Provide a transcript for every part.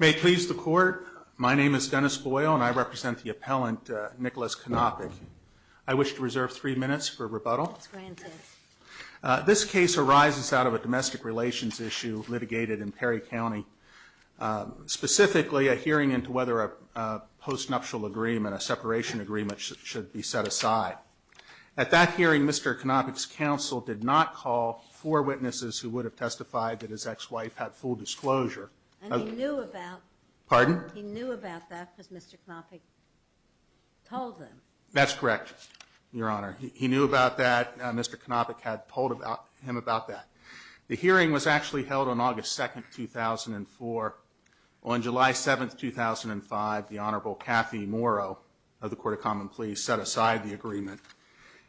My name is Dennis Boyle, and I represent the appellant, Nicholas Konopick. I wish to reserve three minutes for rebuttal. This case arises out of a domestic relations issue litigated in Perry County. Specifically, a hearing into whether a post-nuptial agreement, a separation agreement, should be set aside. At that hearing, Mr. Konopick's counsel did not call four witnesses who would have testified that his ex-wife had full disclosure. And he knew about that because Mr. Konopick told them. That's correct, Your Honor. He knew about that. Mr. Konopick had told him about that. The hearing was actually held on August 2, 2004. On July 7, 2005, the Honorable Kathy Morrow of the Court of Common Pleas set aside the agreement.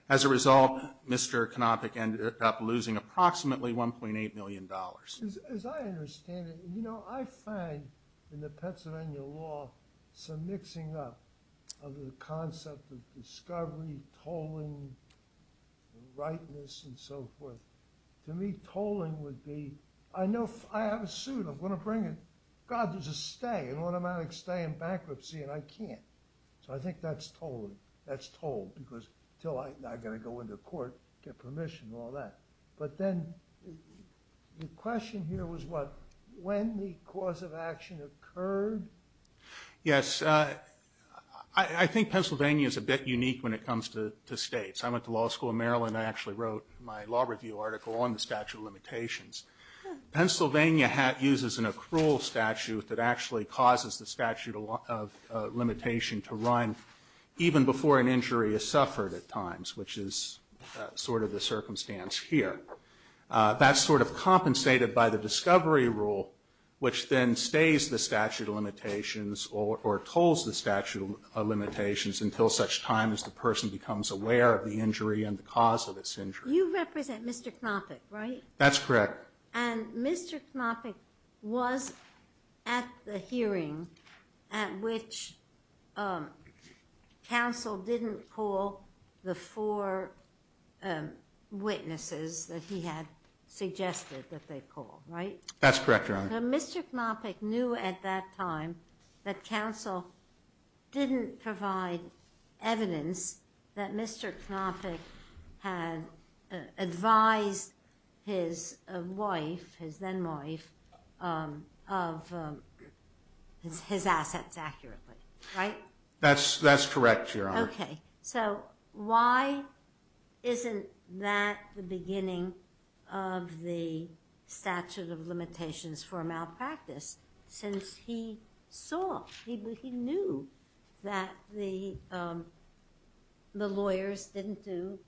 As a result, Mr. Konopick ended up losing approximately $1.8 million. As I understand it, you know, I find in the Pennsylvania law some mixing up of the concept of discovery, tolling, rightness, and so forth. To me, tolling would be, I know, I have a suit, I'm going to bring it. God, there's a stay, an automatic stay in bankruptcy, and I can't. So I think that's tolling. That's toll, because until I'm not going to go into court, get permission, all that. But then the question here was what, when the cause of action occurred? Yes, I think Pennsylvania is a bit unique when it comes to states. I went to law school in Maryland. I actually wrote my law review article on the statute of limitations. Pennsylvania uses an accrual statute that actually causes the statute of limitation to run even before an injury is suffered at times, which is sort of the circumstance here. That's sort of compensated by the discovery rule, which then stays the statute of limitations, or tolls the statute of limitations until such time as the person becomes aware of the injury and the cause of this injury. You represent Mr. Konopick, right? That's correct. And Mr. Konopick was at the hearing at which counsel didn't call the four witnesses that he had suggested that they call, right? That's correct, Your Honor. So Mr. Konopick knew at that time that counsel didn't provide evidence that Mr. Konopick had advised his wife, his then wife, of his assets accurately, right? That's correct, Your Honor. Okay. So why isn't that the beginning of the statute of limitations for malpractice? Since he saw, he knew that the lawyers didn't do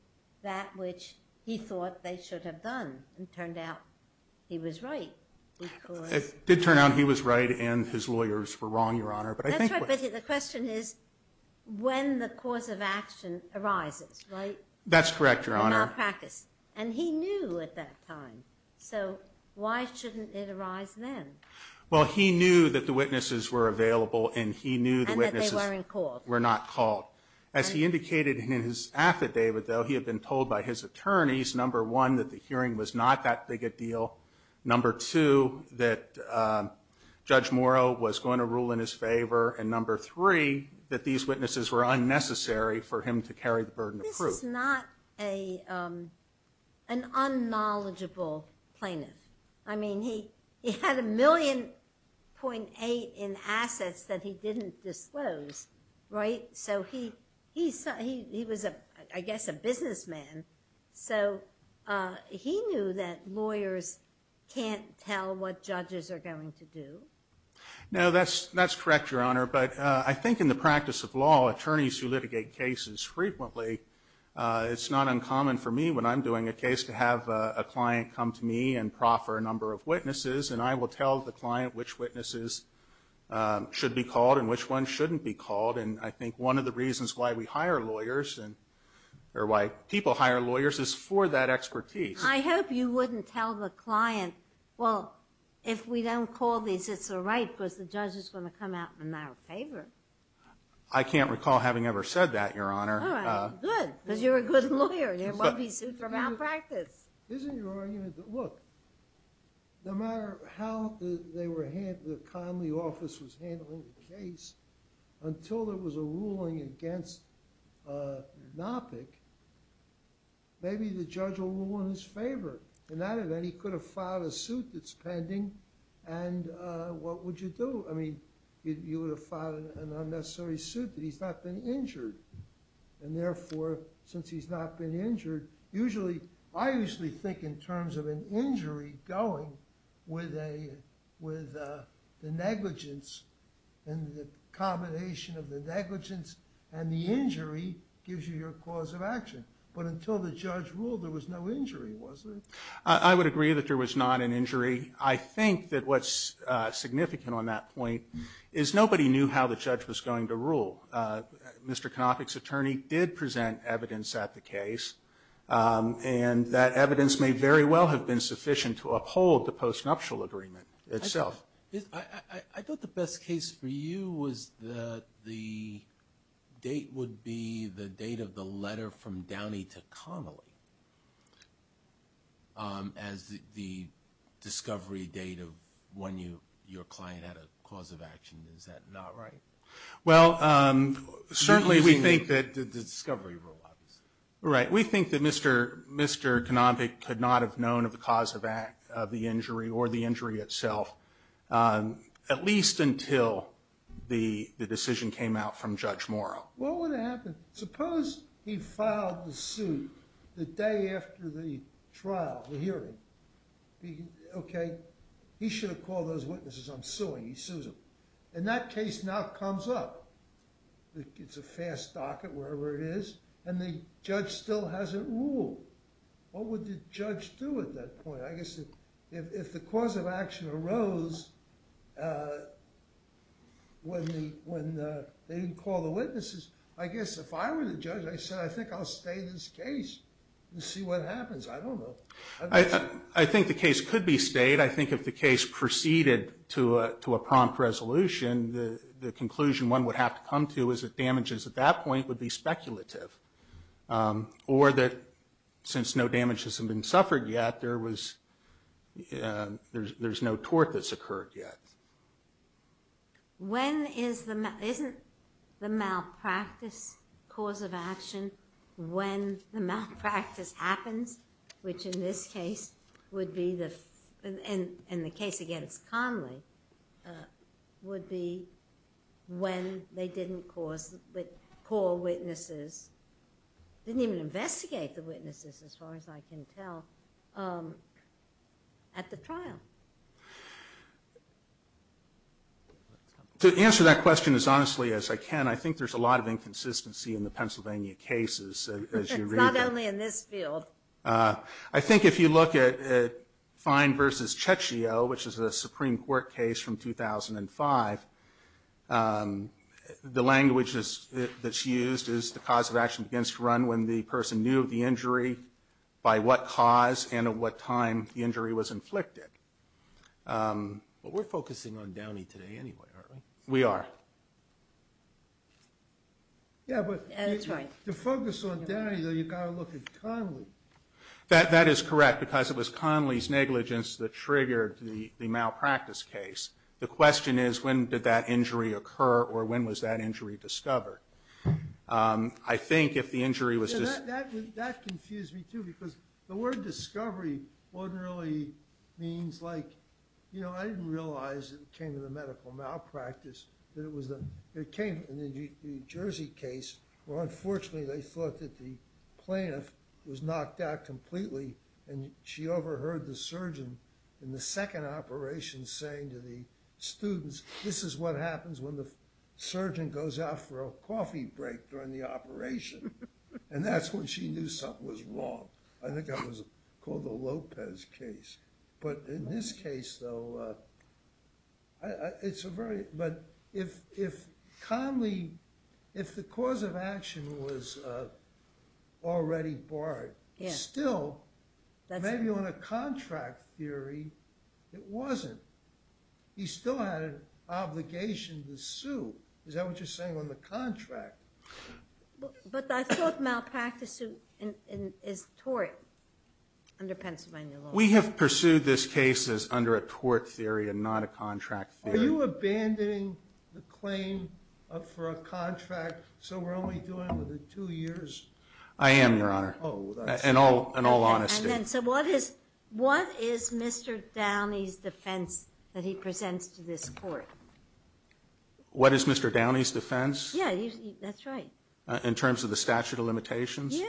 that which he thought they should have done. It turned out he was right. It did turn out he was right and his lawyers were wrong, Your Honor. That's right, but the question is when the cause of action arises, right? That's correct, Your Honor. The malpractice. And he knew at that time. So why shouldn't it arise then? Well, he knew that the witnesses were available and he knew the witnesses were not called. As he indicated in his affidavit, though, he had been told by his attorneys, number one, that the hearing was not that big a deal, number two, that Judge Morrow was going to rule in his favor, and number three, that these witnesses were unnecessary for him to carry the burden of proof. This is not an unknowledgeable plaintiff. I mean, he had a million point eight in assets that he didn't disclose, right? So he was, I guess, a businessman, so he knew that lawyers can't tell what judges are going to do. No, that's correct, Your Honor. But I think in the practice of law, attorneys who litigate cases frequently, it's not uncommon for me when I'm doing a case to have a client come to me and proffer a number of witnesses, and I will tell the client which witnesses should be called and which ones shouldn't be called. And I think one of the reasons why we hire lawyers, or why people hire lawyers, is for that expertise. I hope you wouldn't tell the client, well, if we don't call these, it's all right, because the judge is going to come out in our favor. I can't recall having ever said that, Your Honor. All right, good, because you're a good lawyer. It won't be sued for malpractice. Isn't your argument that, look, no matter how the Connelly office was handling the case, until there was a ruling against Nopik, maybe the judge will rule in his favor. In that event, he could have filed a suit that's pending, and what would you do? I mean, you would have filed an unnecessary suit that he's not been injured. And therefore, since he's not been injured, I usually think in terms of an injury going with the negligence and the combination of the negligence and the injury gives you your cause of action. But until the judge ruled, there was no injury, was there? I would agree that there was not an injury. I think that what's significant on that point is nobody knew how the judge was going to rule. Mr. Conopik's attorney did present evidence at the case, and that evidence may very well have been sufficient to uphold the post-nuptial agreement itself. I thought the best case for you was that the date would be the date of the letter from Downey to Connelly as the discovery date of when your client had a cause of action. Is that not right? Well, certainly we think that the discovery rule, obviously. Right. We think that Mr. Conopik could not have known of the cause of the injury or the injury itself, at least until the decision came out from Judge Morrow. What would have happened? Suppose he filed the suit the day after the trial, the hearing. Okay. He should have called those witnesses on suing. He sues them. And that case now comes up. It's a fast docket wherever it is, and the judge still hasn't ruled. What would the judge do at that point? I guess if the cause of action arose when they didn't call the witnesses, I guess if I were the judge, I'd say, I think I'll stay in this case and see what happens. I don't know. I think the case could be stayed. I think if the case proceeded to a prompt resolution, the conclusion one would have to come to is that damages at that point would be speculative, or that since no damages have been suffered yet, there's no tort that's occurred yet. Isn't the malpractice cause of action when the malpractice happens, which in this case would be the case against Conley, would be when they didn't call witnesses, didn't even investigate the witnesses as far as I can tell, at the trial? To answer that question as honestly as I can, I think there's a lot of inconsistency in the Pennsylvania cases as you read them. Not only in this field. I think if you look at Fine v. Checchio, which is a Supreme Court case from 2005, the language that's used is the cause of action begins to run when the person knew the injury, by what cause, and at what time the injury was inflicted. But we're focusing on Downey today anyway, aren't we? We are. Yeah, but to focus on Downey, you've got to look at Conley. That is correct, because it was Conley's negligence that triggered the malpractice case. The question is, when did that injury occur, or when was that injury discovered? I think if the injury was just- That confused me too, because the word discovery wasn't really, means like, you know, I didn't realize it came to the medical malpractice. It came in the Jersey case, where unfortunately they thought that the plaintiff was knocked out completely, and she overheard the surgeon in the second operation saying to the students, this is what happens when the surgeon goes out for a coffee break during the operation. And that's when she knew something was wrong. I think that was called the Lopez case. But in this case, though, it's a very- If Conley, if the cause of action was already barred, still, maybe on a contract theory, it wasn't. He still had an obligation to sue. Is that what you're saying on the contract? But I thought malpractice is tort under Pennsylvania law. We have pursued this case as under a tort theory and not a contract theory. Are you abandoning the claim for a contract, so we're only doing it for two years? I am, Your Honor, in all honesty. So what is Mr. Downey's defense that he presents to this court? What is Mr. Downey's defense? Yeah, that's right. In terms of the statute of limitations?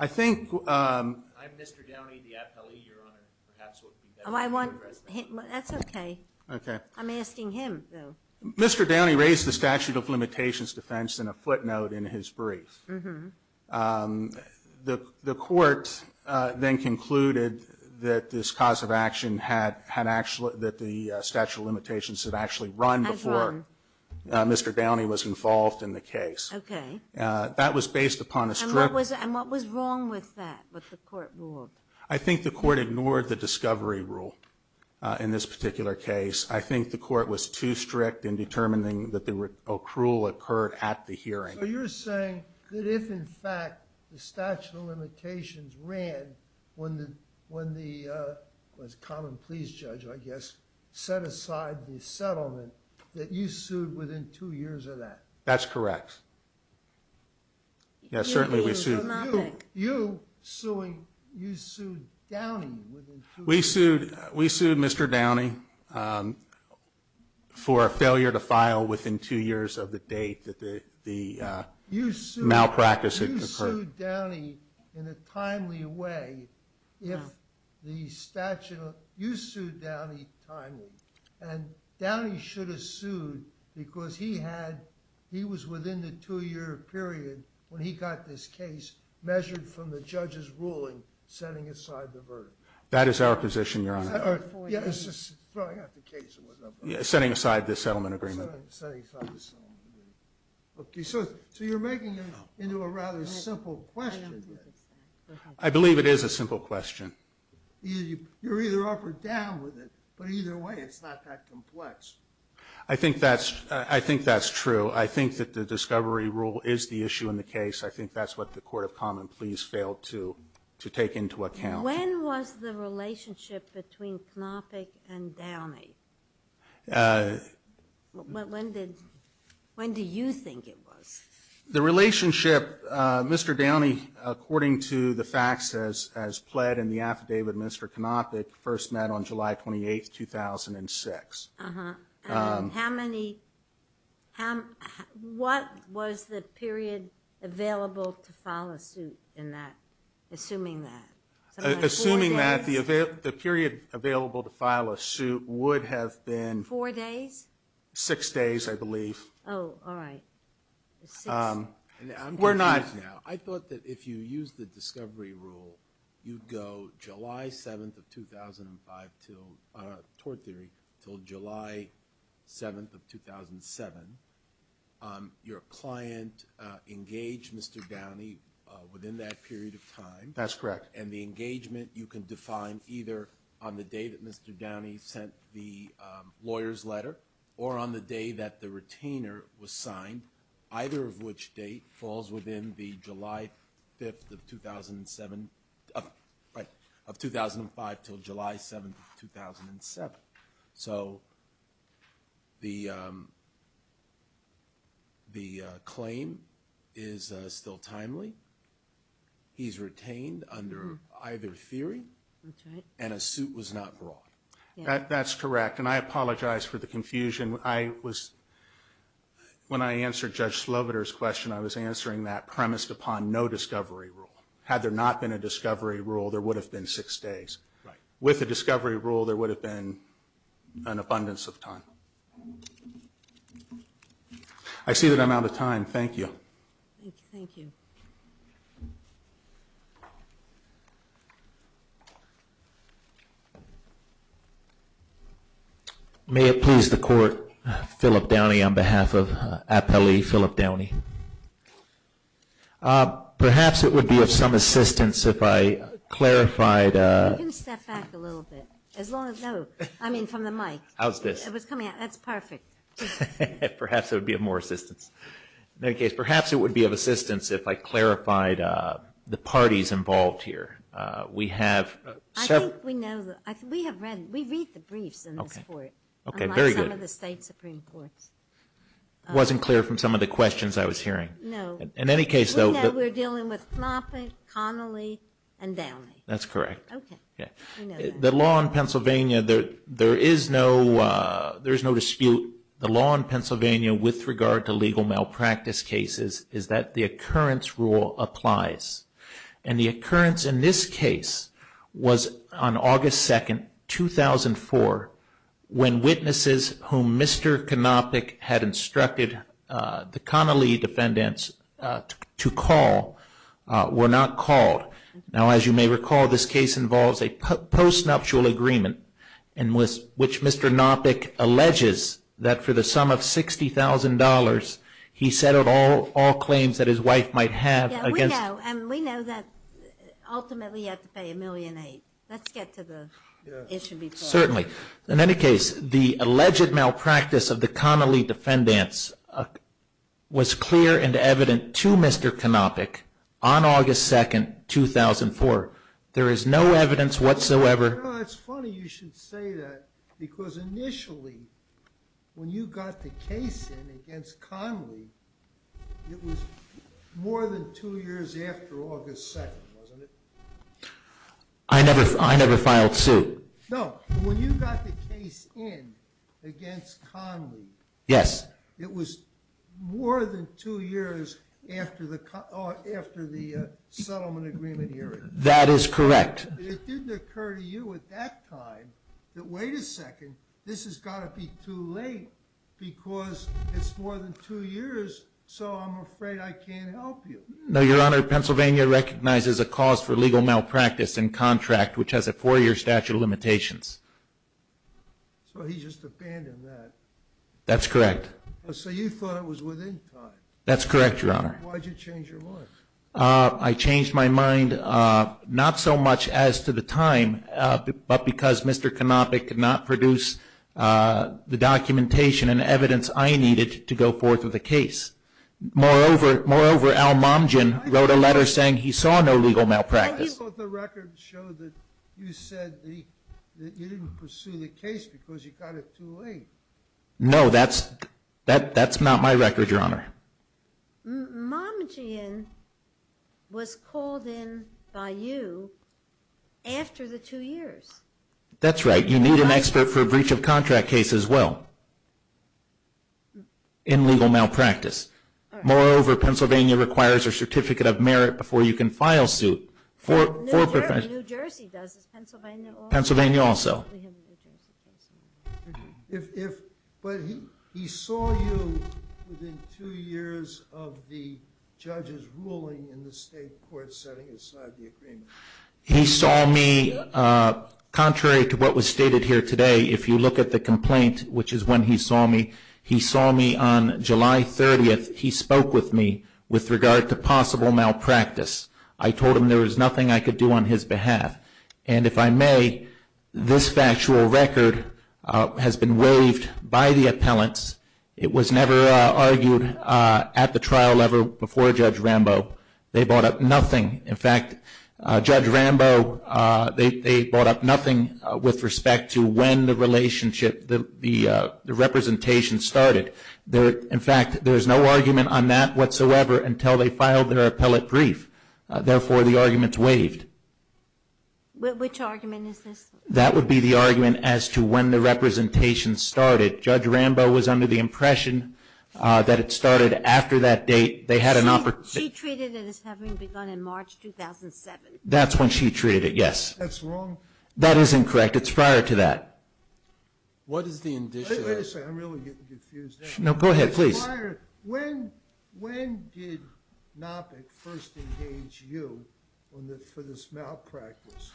I think- I'm Mr. Downey, the appellee, Your Honor, perhaps would be better- That's okay. Okay. I'm asking him, though. Mr. Downey raised the statute of limitations defense in a footnote in his brief. Mm-hmm. The court then concluded that this cause of action had actually- that the statute of limitations had actually run before- Had run. Mr. Downey was involved in the case. Okay. That was based upon a- And what was wrong with that, what the court ruled? I think the court ignored the discovery rule in this particular case. I think the court was too strict in determining that the accrual occurred at the hearing. So you're saying that if, in fact, the statute of limitations ran when the common pleas judge, I guess, set aside the settlement, that you sued within two years of that? That's correct. Yeah, certainly we sued- You sued Downey within two years. We sued Mr. Downey for a failure to file within two years of the date that the malpractice occurred. You sued Downey in a timely way if the statute- You sued Downey timely. And Downey should have sued because he had- measured from the judge's ruling setting aside the verdict. That is our position, Your Honor. Yeah, it's just throwing out the case. Setting aside the settlement agreement. Setting aside the settlement agreement. Okay, so you're making it into a rather simple question. I believe it is a simple question. You're either up or down with it, but either way, it's not that complex. I think that's true. I think that the discovery rule is the issue in the case. I think that's what the court of common pleas failed to take into account. When was the relationship between Knoppeck and Downey? When did you think it was? The relationship, Mr. Downey, according to the facts as pled in the affidavit with Mr. Knoppeck, first met on July 28, 2006. And how many- what was the period available to file a suit in that, assuming that? Assuming that the period available to file a suit would have been- Four days? Six days, I believe. Oh, all right. We're not- I thought that if you used the discovery rule, you'd go July 7th of 2005, tort theory, until July 7th of 2007. Your client engaged Mr. Downey within that period of time. That's correct. And the engagement you can define either on the day that Mr. Downey sent the lawyer's letter or on the day that the retainer was signed, either of which date falls within the July 5th of 2007- of 2005 until July 7th of 2007. So the claim is still timely. He's retained under either theory. That's right. And a suit was not brought. That's correct. And I apologize for the confusion. When I answered Judge Sloviter's question, I was answering that premised upon no discovery rule. Had there not been a discovery rule, there would have been six days. Right. With a discovery rule, there would have been an abundance of time. I see that I'm out of time. Thank you. Thank you. Thank you. May it please the Court, Phillip Downey on behalf of Appellee Phillip Downey. Perhaps it would be of some assistance if I clarified- You can step back a little bit, as long as-no, I mean from the mic. How's this? It was coming out. That's perfect. Perhaps it would be of more assistance. In any case, perhaps it would be of assistance if I clarified the parties involved here. We have- I think we know-we have read-we read the briefs in this Court. Okay, very good. Unlike some of the State Supreme Courts. It wasn't clear from some of the questions I was hearing. No. In any case, though- We know we're dealing with Knoppe, Connolly, and Downey. That's correct. Okay. We know that. The law in Pennsylvania, there is no dispute. The law in Pennsylvania with regard to legal malpractice cases is that the occurrence rule applies. And the occurrence in this case was on August 2, 2004, when witnesses whom Mr. Knoppe had instructed the Connolly defendants to call were not called. Now, as you may recall, this case involves a post-nuptial agreement which Mr. Knoppe alleges that for the sum of $60,000, he settled all claims that his wife might have against- Yeah, we know. And we know that ultimately you have to pay $1.8 million. Let's get to the issue before- Certainly. In any case, the alleged malpractice of the Connolly defendants was clear and evident to Mr. Knoppe on August 2, 2004. There is no evidence whatsoever- You know, it's funny you should say that because initially when you got the case in against Connolly, it was more than two years after August 2, wasn't it? I never filed suit. No, when you got the case in against Connolly- Yes. It was more than two years after the settlement agreement hearing. That is correct. It didn't occur to you at that time that, wait a second, this has got to be too late because it's more than two years, so I'm afraid I can't help you. No, Your Honor. Pennsylvania recognizes a cause for legal malpractice in contract which has a four-year statute of limitations. So he just abandoned that. That's correct. So you thought it was within time. That's correct, Your Honor. Why did you change your mind? I changed my mind not so much as to the time, but because Mr. Knoppe could not produce the documentation and evidence I needed to go forth with the case. Moreover, Al Momgian wrote a letter saying he saw no legal malpractice. I thought the record showed that you said that you didn't pursue the case because you got it too late. No, that's not my record, Your Honor. Momgian was called in by you after the two years. That's right. You need an expert for a breach of contract case as well in legal malpractice. Moreover, Pennsylvania requires a certificate of merit before you can file suit. New Jersey does. Is Pennsylvania also? Pennsylvania also. But he saw you within two years of the judge's ruling in the state court setting aside the agreement. He saw me contrary to what was stated here today. If you look at the complaint, which is when he saw me, he saw me on July 30th. He spoke with me with regard to possible malpractice. I told him there was nothing I could do on his behalf. And if I may, this factual record has been waived by the appellants. It was never argued at the trial level before Judge Rambo. They brought up nothing. In fact, Judge Rambo, they brought up nothing with respect to when the relationship, the representation started. In fact, there's no argument on that whatsoever until they filed their appellate brief. Therefore, the argument's waived. Which argument is this? That would be the argument as to when the representation started. Judge Rambo was under the impression that it started after that date. They had an opportunity. She treated it as having begun in March 2007. That's when she treated it, yes. That's wrong. That is incorrect. It's prior to that. What is the indicia? Wait a second. I'm really getting confused here. No, go ahead, please. When did Nopik first engage you for this malpractice?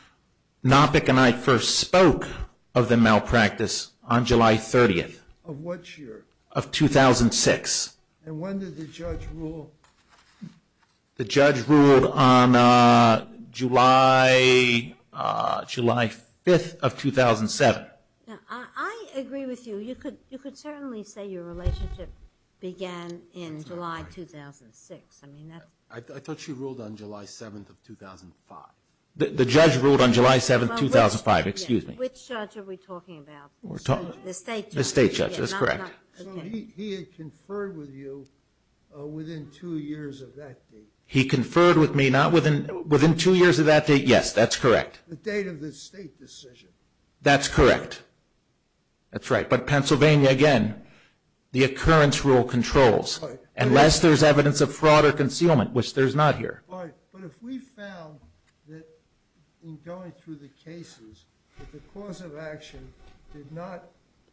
Nopik and I first spoke of the malpractice on July 30th. Of what year? Of 2006. And when did the judge rule? The judge ruled on July 5th of 2007. I agree with you. You could certainly say your relationship began in July 2006. I thought she ruled on July 7th of 2005. The judge ruled on July 7th, 2005. Excuse me. Which judge are we talking about? The state judge. The state judge. That's correct. He had conferred with you within two years of that date. He conferred with me not within two years of that date. Yes, that's correct. The date of the state decision. That's correct. That's right. But Pennsylvania, again, the occurrence rule controls. Unless there's evidence of fraud or concealment, which there's not here. But if we found that in going through the cases that the cause of action did not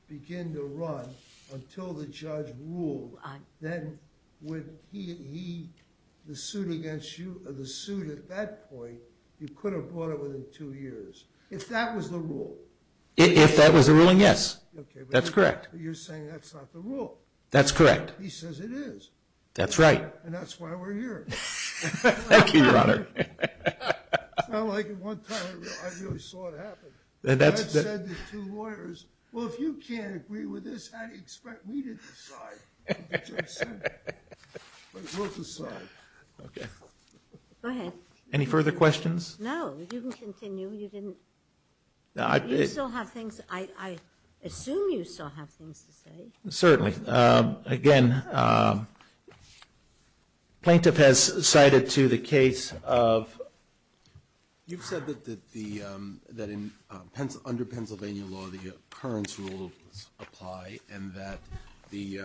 begin to run until the judge ruled, then would he, the suit against you, the suit at that point, you could have brought it within two years. If that was the rule. If that was the ruling, yes. That's correct. You're saying that's not the rule. That's correct. He says it is. That's right. And that's why we're here. Thank you, Your Honor. It's not like at one time I really saw it happen. I had said to two lawyers, well, if you can't agree with this, how do you expect me to decide? But it was decided. Okay. Go ahead. Any further questions? No. You can continue. You still have things. I assume you still have things to say. Certainly. Again, plaintiff has cited to the case of. You've said that under Pennsylvania law the occurrence rules apply and that the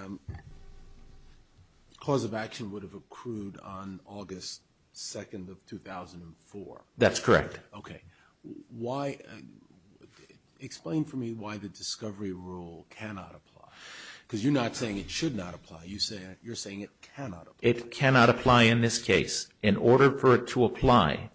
cause of action would have accrued on August 2nd of 2004. That's correct. Okay. Explain for me why the discovery rule cannot apply. Because you're not saying it should not apply. You're saying it cannot apply. It cannot apply in this case. In order for it to apply,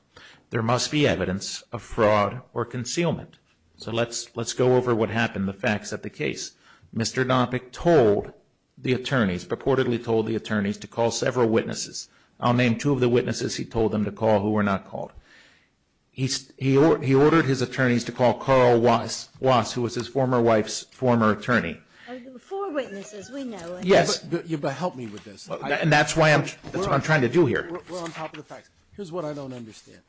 there must be evidence of fraud or concealment. So let's go over what happened, the facts of the case. Mr. Dompik told the attorneys, purportedly told the attorneys, to call several witnesses. I'll name two of the witnesses he told them to call who were not called. He ordered his attorneys to call Carl Wass, who was his former wife's former attorney. Four witnesses, we know. Yes. Help me with this. And that's what I'm trying to do here. We're on top of the facts. Here's what I don't understand.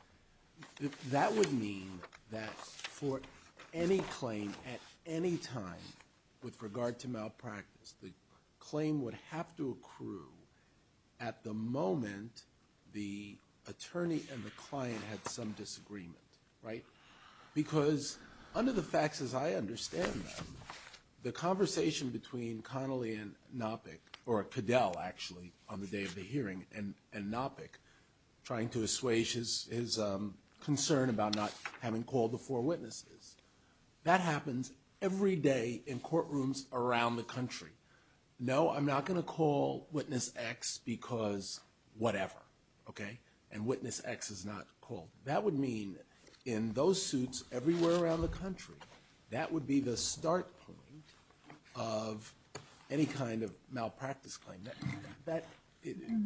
That would mean that for any claim at any time with regard to malpractice, the claim would have to accrue at the moment the attorney and the client had some disagreement, right? Because under the facts as I understand them, the conversation between Connolly and Dompik, or Cadell, actually, on the day of the hearing, and Dompik, trying to assuage his concern about not having called the four witnesses, that happens every day in courtrooms around the country. No, I'm not going to call witness X because whatever, okay? And witness X is not called. That would mean in those suits everywhere around the country, that would be the start point of any kind of malpractice claim.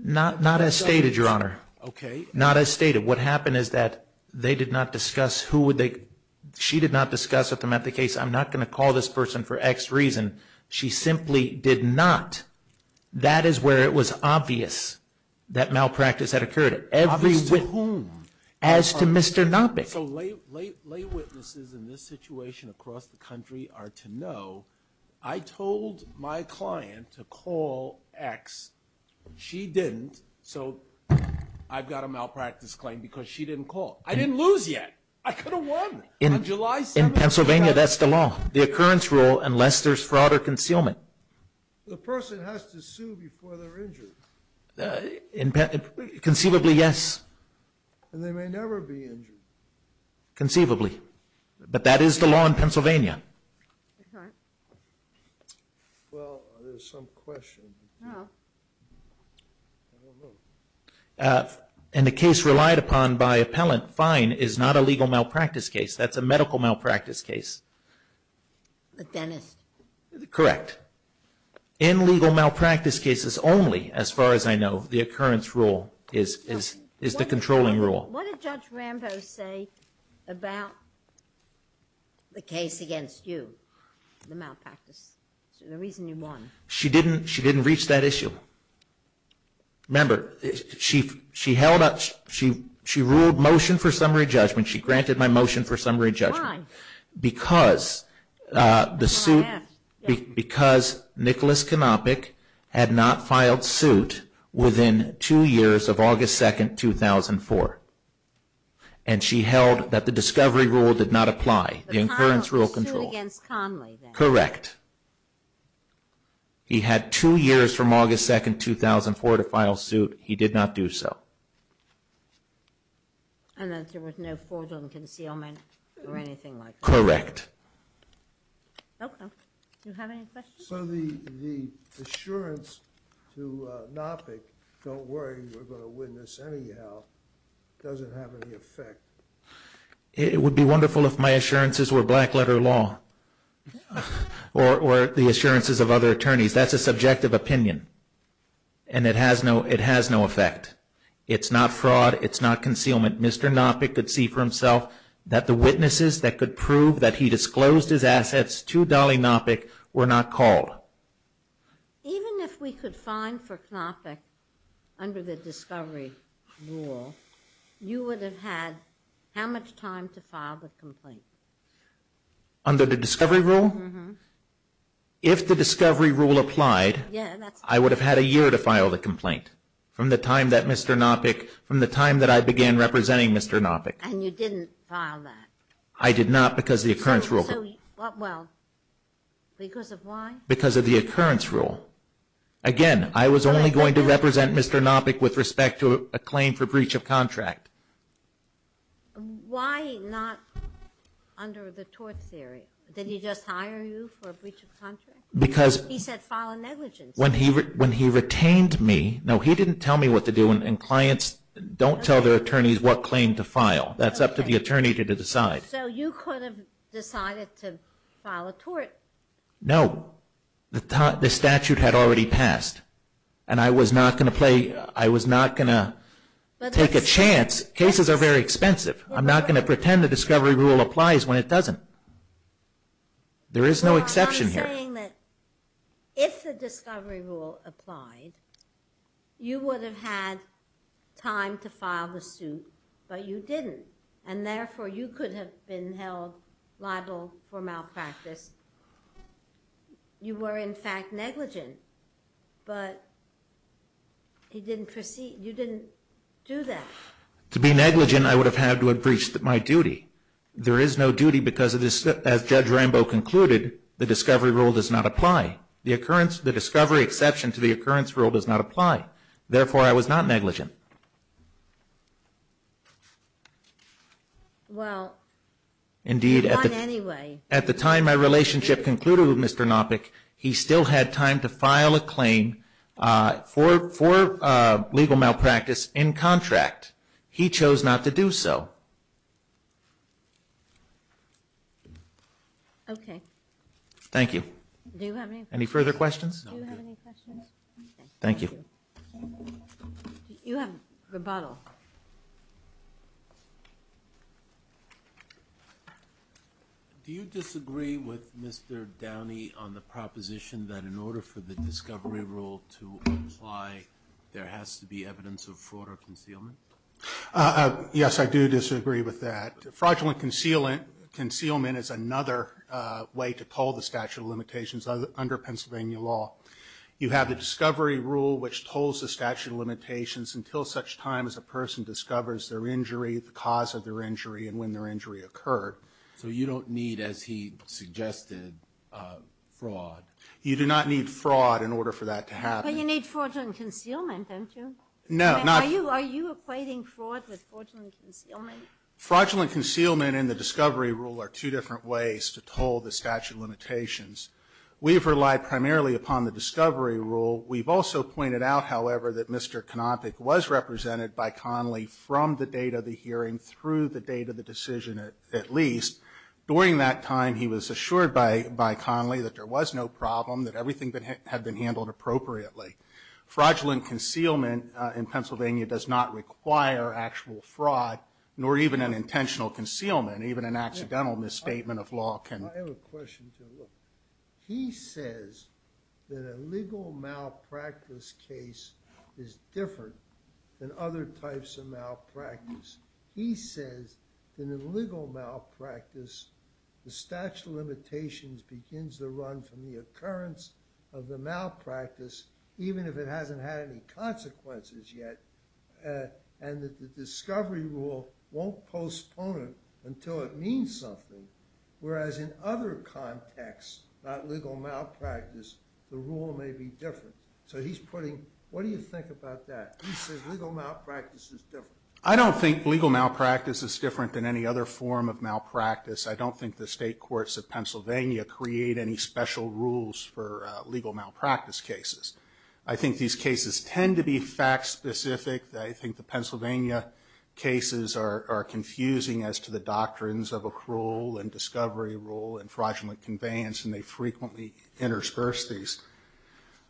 Not as stated, Your Honor. Okay. Not as stated. What happened is that they did not discuss who would they, she did not discuss with them at the case, I'm not going to call this person for X reason. She simply did not. That is where it was obvious that malpractice had occurred. Obvious to whom? As to Mr. Dompik. So lay witnesses in this situation across the country are to know, I told my client to call X. She didn't. So I've got a malpractice claim because she didn't call. I didn't lose yet. I could have won on July 7th. In Pennsylvania, that's the law, the occurrence rule, unless there's fraud or concealment. The person has to sue before they're injured. Conceivably, yes. And they may never be injured. Conceivably. But that is the law in Pennsylvania. Yes, ma'am. Well, there's some question. Oh. I don't know. In the case relied upon by appellant, fine is not a legal malpractice case. That's a medical malpractice case. A dentist. Correct. In legal malpractice cases only, as far as I know, the occurrence rule is the controlling rule. What did Judge Rambo say about the case against you, the malpractice? The reason you won. She didn't reach that issue. Remember, she ruled motion for summary judgment. She granted my motion for summary judgment. Why? Because the suit, because Nicholas Konopic had not filed suit within two years of August 2nd, 2004. And she held that the discovery rule did not apply, the occurrence rule control. The suit against Conley then. Correct. He had two years from August 2nd, 2004 to file suit. He did not do so. And that there was no fraudulent concealment or anything like that. Correct. Okay. Do you have any questions? Sir, the assurance to Konopic, don't worry, we're going to witness anyhow, doesn't have any effect. It would be wonderful if my assurances were black letter law or the assurances of other attorneys. That's a subjective opinion. And it has no effect. It's not fraud. It's not concealment. Mr. Konopic could see for himself that the witnesses that could prove that he disclosed his assets to Dolly Knopic were not called. Even if we could find for Konopic under the discovery rule, you would have had how much time to file the complaint? Under the discovery rule? Uh-huh. If the discovery rule applied, I would have had a year to file the complaint. From the time that Mr. Knopic, from the time that I began representing Mr. Knopic. And you didn't file that? I did not because of the occurrence rule. Well, because of why? Because of the occurrence rule. Again, I was only going to represent Mr. Knopic with respect to a claim for breach of contract. Why not under the tort theory? Did he just hire you for a breach of contract? He said file a negligence. When he retained me, no, he didn't tell me what to do, and clients don't tell their attorneys what claim to file. That's up to the attorney to decide. So you could have decided to file a tort? No. The statute had already passed, and I was not going to play, I was not going to take a chance. Cases are very expensive. I'm not going to pretend the discovery rule applies when it doesn't. There is no exception here. Well, I'm saying that if the discovery rule applied, you would have had time to file the suit, but you didn't, and therefore you could have been held liable for malpractice. You were, in fact, negligent, but you didn't do that. To be negligent, I would have had to have breached my duty. There is no duty because, as Judge Rambo concluded, the discovery rule does not apply. The discovery exception to the occurrence rule does not apply. Therefore, I was not negligent. Well, he won anyway. Indeed, at the time my relationship concluded with Mr. Nopik, he still had time to file a claim for legal malpractice in contract. He chose not to do so. Okay. Thank you. Any further questions? Thank you. You have rebuttal. Do you disagree with Mr. Downey on the proposition that in order for the discovery rule to apply, there has to be evidence of fraud or concealment? Yes, I do disagree with that. Fraudulent concealment is another way to toll the statute of limitations under Pennsylvania law. You have the discovery rule which tolls the statute of limitations until such time as a person discovers their injury, the cause of their injury, and when their injury occurred. So you don't need, as he suggested, fraud? You do not need fraud in order for that to happen. But you need fraudulent concealment, don't you? No. Are you equating fraud with fraudulent concealment? Fraudulent concealment and the discovery rule are two different ways to toll the statute of limitations. We've relied primarily upon the discovery rule. We've also pointed out, however, that Mr. Konopic was represented by Connolly from the date of the hearing through the date of the decision at least. During that time, he was assured by Connolly that there was no problem, that everything had been handled appropriately. Fraudulent concealment in Pennsylvania does not require actual fraud, nor even an intentional concealment, even an accidental misstatement of law. I have a question, too. He says that a legal malpractice case is different than other types of malpractice. He says that in legal malpractice, the statute of limitations begins to run from the occurrence of the malpractice, even if it hasn't had any consequences yet, and that the discovery rule won't postpone it until it means something, whereas in other contexts, not legal malpractice, the rule may be different. So he's putting, what do you think about that? He says legal malpractice is different. I don't think legal malpractice is different than any other form of malpractice. I don't think the state courts of Pennsylvania create any special rules for legal malpractice cases. I think these cases tend to be fact-specific. I think the Pennsylvania cases are confusing as to the doctrines of accrual and discovery rule and fraudulent conveyance, and they frequently intersperse these.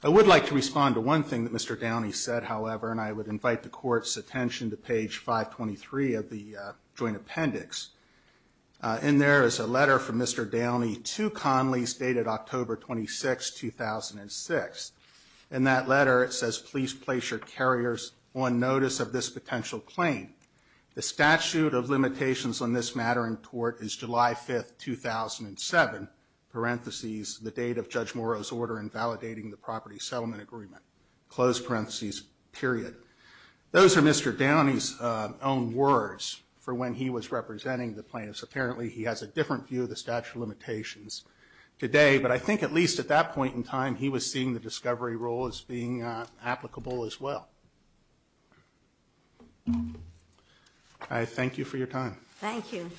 I would like to respond to one thing that Mr. Downey said, however, and I would invite the Court's attention to page 523 of the joint appendix. In there is a letter from Mr. Downey to Conley's dated October 26, 2006. In that letter it says, Please place your carriers on notice of this potential claim. The statute of limitations on this matter in court is July 5, 2007, parentheses, the date of Judge Morrow's order in validating the property settlement agreement, close parentheses, period. Those are Mr. Downey's own words for when he was representing the plaintiffs. Apparently, he has a different view of the statute of limitations today, but I think at least at that point in time he was seeing the discovery rule as being applicable as well. I thank you for your time. Thank you.